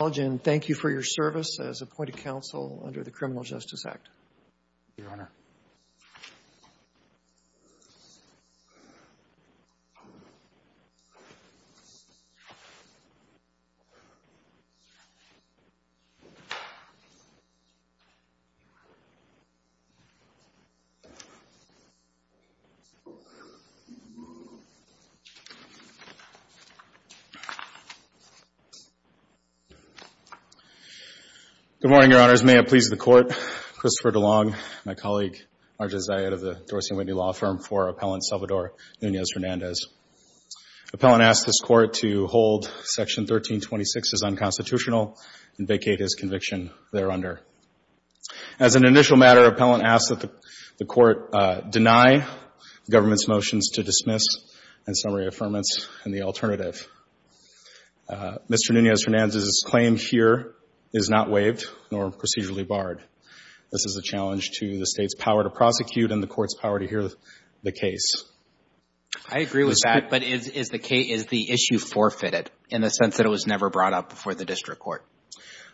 Thank you for your service as appointed counsel under the Criminal Justice Act. Good morning, Your Honors. May it please the Court, Christopher DeLong, my colleague, Marja Zayed of the Dorsey & Whitney Law Firm, for Appellant Salvador Nunez-Hernandez. Appellant asks this Court to hold Section 1326 as unconstitutional and vacate his conviction thereunder. As an initial matter, Appellant asks that the Court deny the government's motions to dismiss and summary affirmance in the alternative. Mr. Nunez-Hernandez's claim here is not waived nor procedurally barred. This is a challenge to the State's power to prosecute and the Court's power to hear the case. I agree with that, but is the issue forfeited in the sense that it was never brought up before the District Court?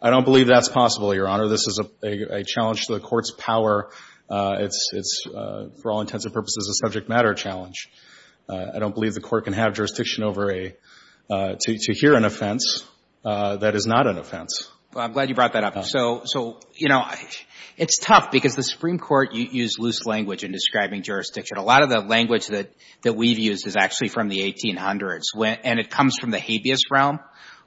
I don't believe that's possible, Your Honor. This is a challenge to the Court's power. It's, for all intents and purposes, a subject matter challenge. I don't believe the Court can have jurisdiction to hear an offense that is not an offense. Well, I'm glad you brought that up. So, you know, it's tough because the Supreme Court used loose language in describing jurisdiction. A lot of the language that we've used is actually from the 1800s, and it comes from the habeas realm,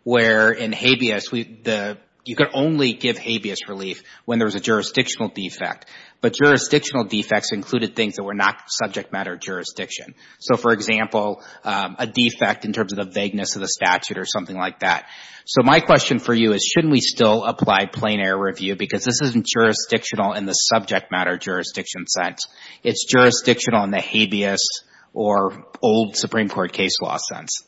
where in habeas, you could only give habeas relief when there was a jurisdictional defect. But jurisdictional defects included things that were not subject matter jurisdiction. So, for example, a defect in terms of the vagueness of the statute or something like that. So my question for you is, shouldn't we still apply plain error review? Because this isn't jurisdictional in the subject matter jurisdiction sense. It's jurisdictional in the habeas or old Supreme Court case law sense.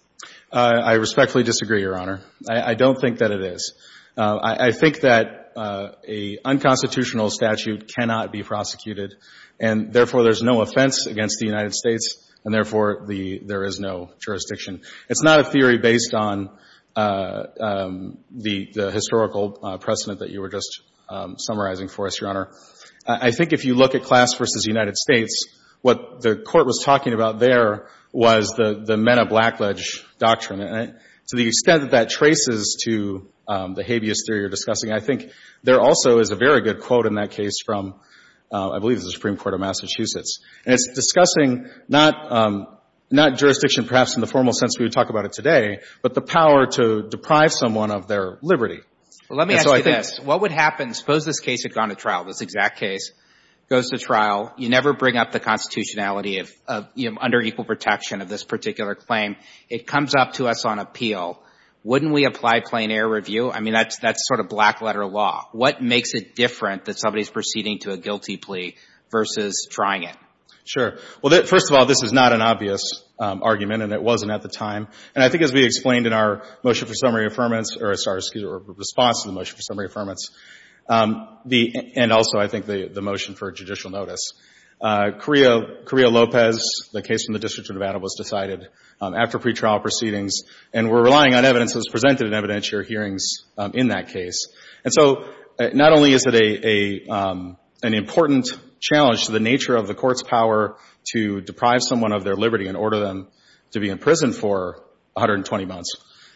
I respectfully disagree, Your Honor. I don't think that it is. I think that an unconstitutional statute cannot be prosecuted, and therefore there's no offense against the United States, and therefore there is no jurisdiction. It's not a theory based on the historical precedent that you were just summarizing for us, Your Honor. I think if you look at Class v. United States, what the Court was talking about there was the meta-blackledge doctrine. And to the extent that that traces to the habeas theory you're discussing, I think there also is a very good quote in that case from, I believe, the Supreme Court of Massachusetts. And it's discussing not jurisdiction perhaps in the formal sense we would talk about it today, but the power to deprive someone of their liberty. Well, let me ask you this. What would happen, suppose this case had gone to trial, this exact case goes to trial. You never bring up the constitutionality of, you know, under equal protection of this particular claim. It comes up to us on appeal. Wouldn't we apply plain error review? I mean, that's sort of black letter law. What makes it different that somebody is proceeding to a guilty plea versus trying it? Sure. Well, first of all, this is not an obvious argument, and it wasn't at the time. And I think as we explained in our motion for summary affirmance, or sorry, excuse me, response to the motion for summary affirmance, and also I think the motion for judicial notice, Correa Lopez, the case from the District of Nevada, was decided after pretrial proceedings, and we're relying on evidence that was presented in evidentiary hearings in that case. And so not only is it an important challenge to the nature of the Court's power to deprive someone of their liberty and order them to be in prison for 120 months,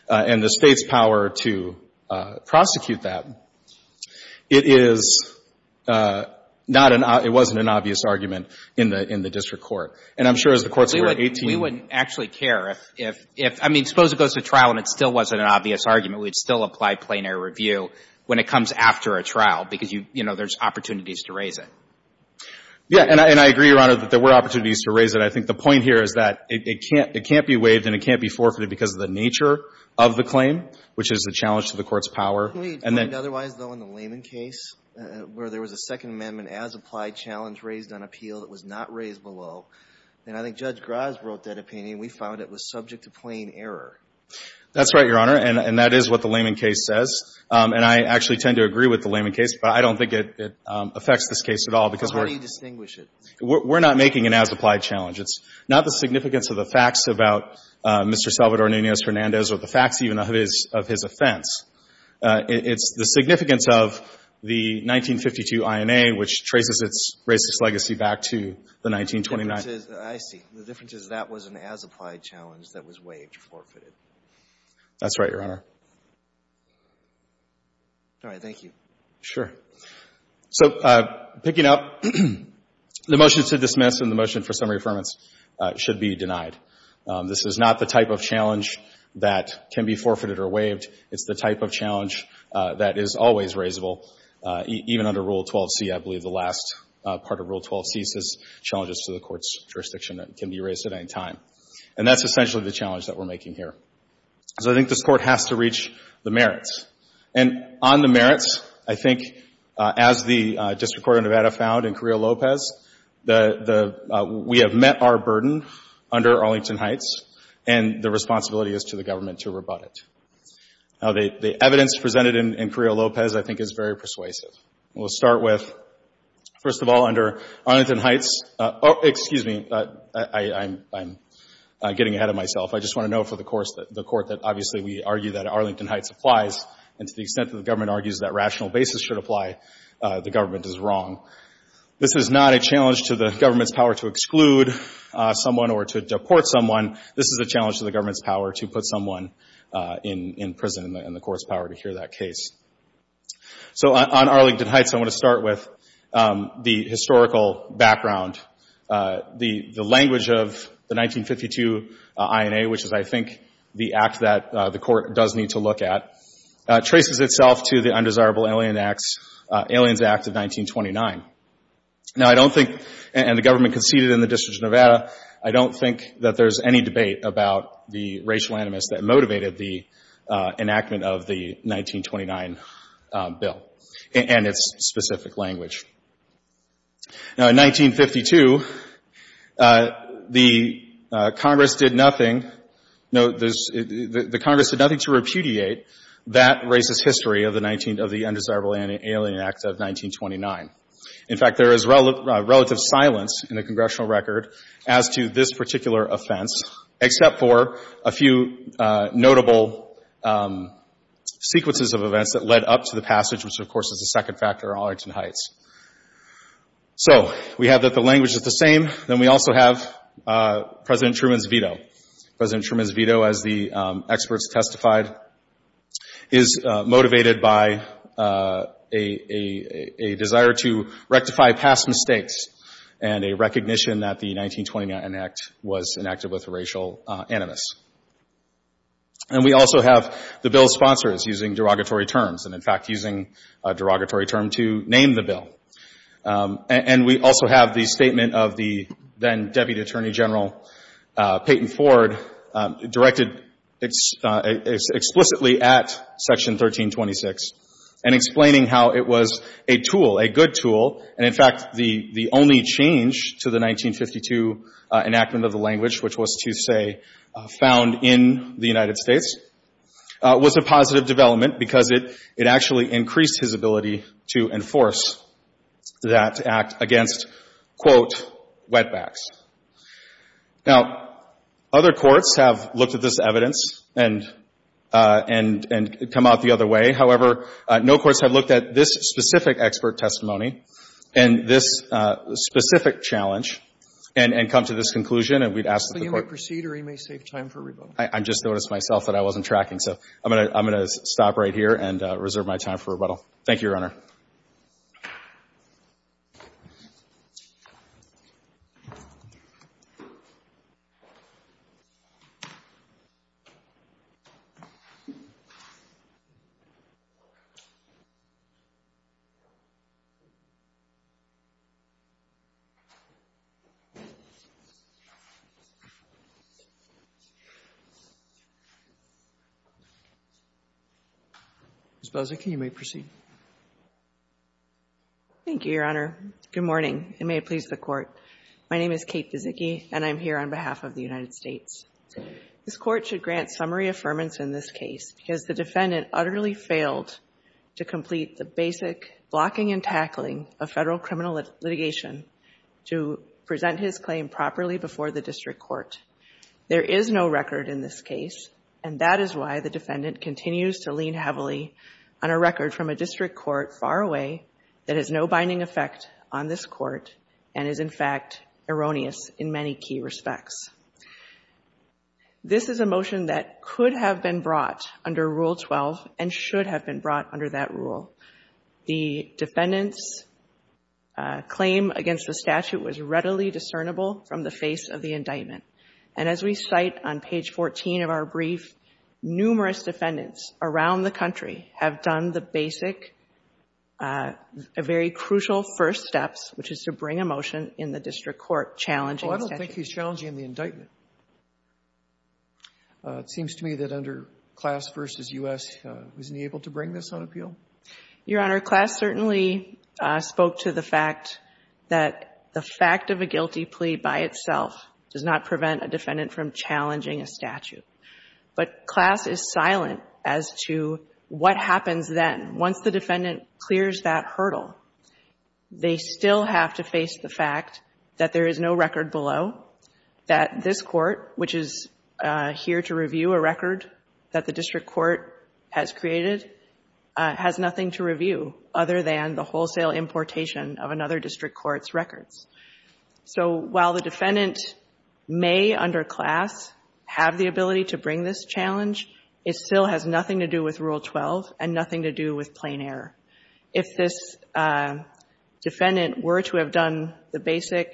and the State's power to prosecute that, it is not an — it wasn't an obvious argument in the — in the district court. And I'm sure as the courts were 18 — We wouldn't actually care if — if — I mean, suppose it goes to trial and it still wasn't an obvious argument. We'd still apply plain error review when it comes after a trial because, you know, there's opportunities to raise it. Yeah. And I agree, Your Honor, that there were opportunities to raise it. I think the point here is that it can't — it can't be waived and it can't be forfeited because of the nature of the claim, which is a challenge to the Court's power. Can we point otherwise, though, in the Lehman case, where there was a Second Amendment as-applied challenge raised on appeal that was not raised below? And I think Judge Gras wrote that opinion. We found it was subject to plain error. That's right, Your Honor, and that is what the Lehman case says. And I actually tend to agree with the Lehman case, but I don't think it affects this case at all because we're — How do you distinguish it? We're not making an as-applied challenge. It's not the significance of the facts about Mr. Salvador Nunez-Fernandez or the facts even of his offense. It's the significance of the 1952 INA, which traces its racist legacy back to the 1929 — The difference is — I see. The difference is that was an as-applied challenge that was waived or forfeited. That's right, Your Honor. All right. Thank you. Sure. So picking up, the motion to dismiss and the motion for summary affirmance should be denied. This is not the type of challenge that can be forfeited or waived. It's the type of challenge that is always raisable, even under Rule 12c. I believe the last part of Rule 12c says challenges to the court's jurisdiction that can be raised at any time. And that's essentially the challenge that we're making here. So I think this Court has to reach the merits. And on the merits, I think, as the District Court of Nevada found in Carrillo-Lopez, we have met our burden under Arlington Heights, and the responsibility is to the government to rebut it. The evidence presented in Carrillo-Lopez, I think, is very persuasive. We'll start with, first of all, under Arlington Heights — excuse me, I'm getting ahead of myself. I just want to note for the Court that, obviously, we argue that Arlington Heights applies. And to the extent that the government argues that rational basis should apply, the government is wrong. This is not a challenge to the government's power to exclude someone or to deport someone. This is a challenge to the government's power to put someone in prison and the court's power to hear that case. So on Arlington Heights, I want to start with the historical background. The language of the 1952 INA, which is, I think, the act that the Court does need to look at, traces itself to the Undesirable Aliens Act of 1929. Now, I don't think — and the government conceded in the District of Nevada — I don't think that there's any debate about the racial animus that motivated the enactment of the 1929 bill and its specific language. Now, in 1952, the Congress did nothing — no, there's — the Congress did nothing to repudiate that racist history of the 19 — of the Undesirable Alien Act of 1929. In fact, there is relative silence in the congressional record as to this particular offense, except for a few notable sequences of events that led up to the passage, which, of course, is the second factor on Arlington Heights. So we have that the language is the same. Then we also have President Truman's veto. President Truman's veto, as the experts testified, is motivated by a desire to rectify past mistakes and a recognition that the 1929 enact was enacted with racial animus. And we also have the bill's sponsors using derogatory terms and, in fact, using a derogatory term to name the bill. And we also have the statement of the then-Deputy Attorney General Payton Ford directed explicitly at Section 1326 and explaining how it was a tool, a good tool. And, in fact, the only change to the 1952 enactment of the language, which was to say found in the United States, was a positive development because it actually increased his ability to enforce that act against, quote, wetbacks. Now, other courts have looked at this evidence and come out the other way. However, no courts have looked at this specific expert testimony and this specific challenge and come to this conclusion. And we'd ask that the Court — So he may proceed or he may save time for rebuttal? I just noticed myself that I wasn't tracking. So I'm going to stop right here and reserve my time for rebuttal. Thank you, Your Honor. Ms. Bozycki, you may proceed. Thank you, Your Honor. Good morning. It may please the Court. My name is Kate Bozycki, and I'm here on behalf of the United States. This Court should grant summary affirmance in this case because the defendant utterly failed to complete the basic blocking and tackling of federal criminal litigation to present his claim properly before the district court. There is no record in this case, and that is why the defendant continues to lean heavily on a record from a district court far away that has no binding effect on this court and is, in fact, erroneous in many key respects. This is a motion that could have been brought under Rule 12 and should have been brought under that rule. The defendant's claim against the statute was readily discernible from the face of the indictment. And as we cite on page 14 of our brief, numerous defendants around the country have done the basic, very crucial first steps, which is to bring a motion in the district court challenging the statute. Sotomayor, I don't think he's challenging the indictment. It seems to me that under Class v. U.S., wasn't he able to bring this on appeal? Your Honor, Class certainly spoke to the fact that the fact of a guilty plea by itself does not prevent a defendant from challenging a statute. But Class is silent as to what happens then. Once the defendant clears that hurdle, they still have to face the fact that there is no record below, that this court, which is here to review a record that the district court has created, has nothing to review other than the wholesale importation of another district court's records. So while the defendant may, under Class, have the ability to bring this challenge, it still has nothing to do with Rule 12 and nothing to do with plain error. If this defendant were to have done the basic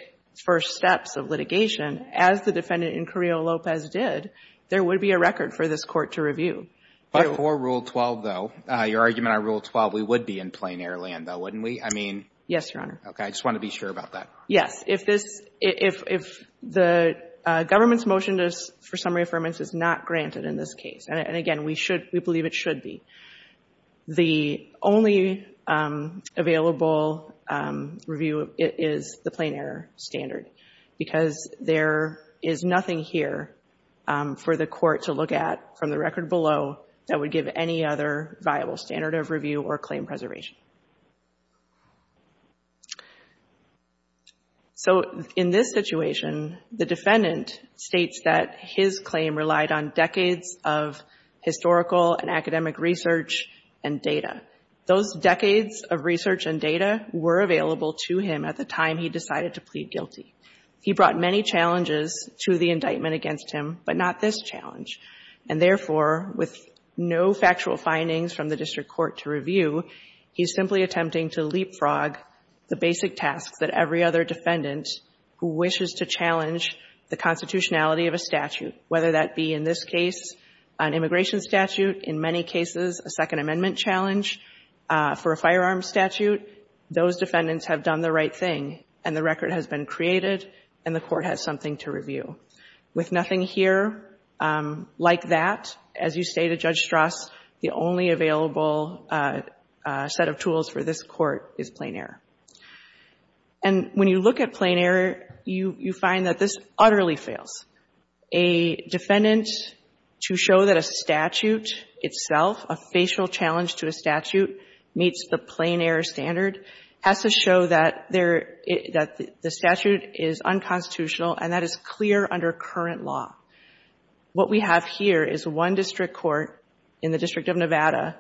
first steps of litigation, as the defendant in Carrillo-Lopez did, there would be a record for this court to review. But for Rule 12, though, your argument on Rule 12, we would be in plain-air land, though, wouldn't we? I mean — Yes, Your Honor. Okay. I just want to be sure about that. Yes. If this — if the government's motion for summary affirmance is not granted in this available review, it is the plain-air standard. Because there is nothing here for the court to look at from the record below that would give any other viable standard of review or claim preservation. So in this situation, the defendant states that his claim relied on decades of historical and academic research and data. Those decades of research and data were available to him at the time he decided to plead guilty. He brought many challenges to the indictment against him, but not this challenge. And therefore, with no factual findings from the district court to review, he's simply attempting to leapfrog the basic tasks that every other defendant who wishes to challenge the constitutionality of a statute, whether that be, in this case, an immigration statute, in many cases, a Second Amendment challenge for a firearms statute. Those defendants have done the right thing, and the record has been created, and the court has something to review. With nothing here like that, as you say to Judge Strass, the only available set of tools for this court is plain-air. And when you look at plain-air, you find that this utterly fails. A defendant, to show that a statute itself, a facial challenge to a statute, meets the plain-air standard, has to show that the statute is unconstitutional, and that is clear under current law. What we have here is one district court in the District of Nevada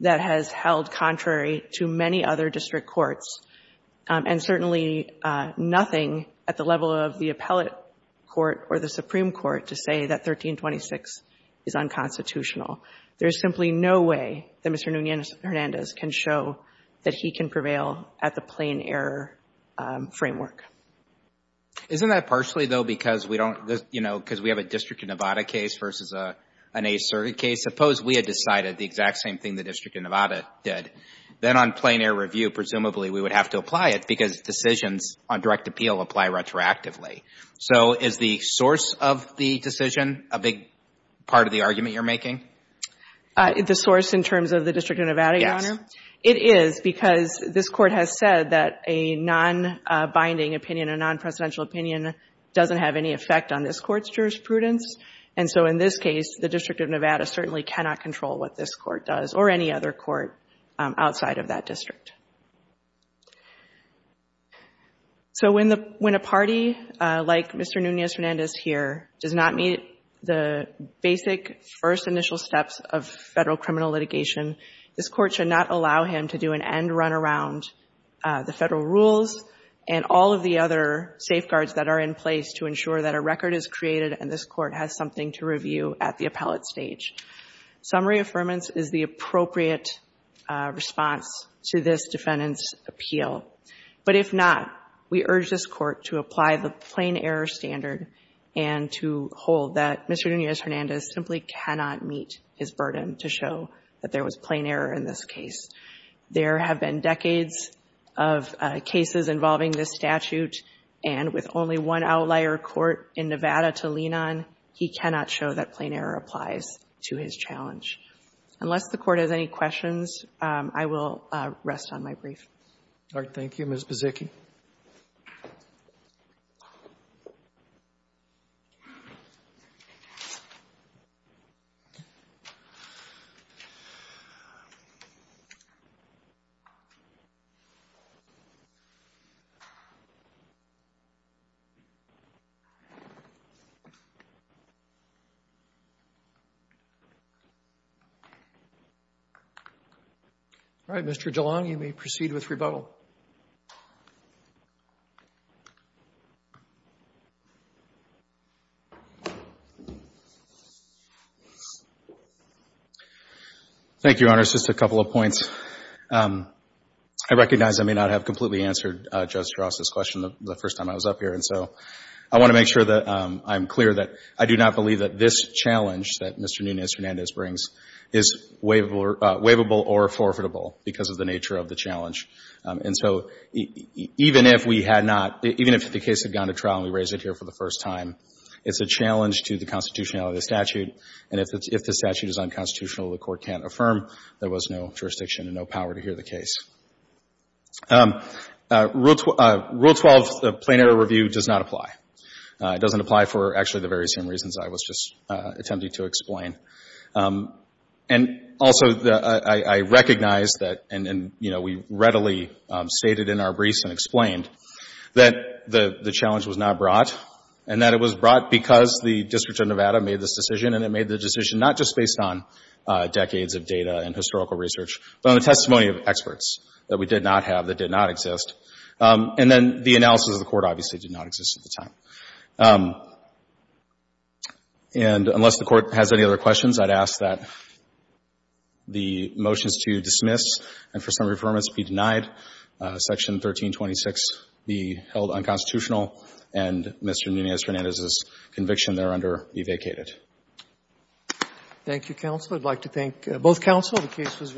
that has held contrary to many other district courts, and certainly nothing at the level of the appellate court or the Supreme Court to say that 1326 is unconstitutional. There is simply no way that Mr. Nunez-Hernandez can show that he can prevail at the plain-air framework. Isn't that partially, though, because we have a District of Nevada case versus an appellate case, and the District of Nevada did. Then on plain-air review, presumably, we would have to apply it because decisions on direct appeal apply retroactively. So is the source of the decision a big part of the argument you're making? The source in terms of the District of Nevada, Your Honor? Yes. It is, because this Court has said that a non-binding opinion, a non-presidential opinion doesn't have any effect on this Court's jurisprudence. And so in this case, the District of Nevada certainly cannot control what this Court does or any other court outside of that district. So when a party like Mr. Nunez-Hernandez here does not meet the basic first initial steps of federal criminal litigation, this Court should not allow him to do an end run around the federal rules and all of the other safeguards that are in place to ensure that a record is created and this Court has something to review at the appellate stage. Summary affirmance is the appropriate response to this defendant's appeal. But if not, we urge this Court to apply the plain-error standard and to hold that Mr. Nunez-Hernandez simply cannot meet his burden to show that there was plain-error in this case. There have been decades of cases involving this statute, and with only one outlier court in Nevada to lean on, he cannot show that plain-error applies to his challenge. Unless the Court has any questions, I will rest on my brief. Roberts. Ms. Buzicki. All right. Mr. DeLong, you may proceed with rebuttal. Thank you, Your Honors. Just a couple of points. I recognize I may not have completely answered Judge Strauss' question the first time I was up here, and so I want to make sure that I'm clear that I do not believe that this challenge that Mr. Nunez-Hernandez brings is waivable or forfeitable because of the nature of the challenge. And so even if we had not, even if the case had gone to trial and we raised it here for the first time, it's a challenge to the constitutionality of the statute, and if the statute is unconstitutional, the Court can't affirm there was no jurisdiction and no power to hear the case. Rule 12, the plain-error review, does not apply. It doesn't apply for, actually, the very same reasons I was just attempting to explain. And also, I recognize that, and, you know, we readily stated in our briefs and explained that the challenge was not brought and that it was brought because the District of Nevada made this decision, and it made the decision not just based on decades of data and historical research, but on the testimony of experts that we did not have that did not exist. And then the analysis of the Court obviously did not exist at the time. And unless the Court has any other questions, I'd ask that the motions to dismiss and for summary affirmance be denied, Section 1326 be held unconstitutional, and Mr. Nunez-Fernandez's conviction thereunder be vacated. Thank you, counsel. I'd like to thank both counsel.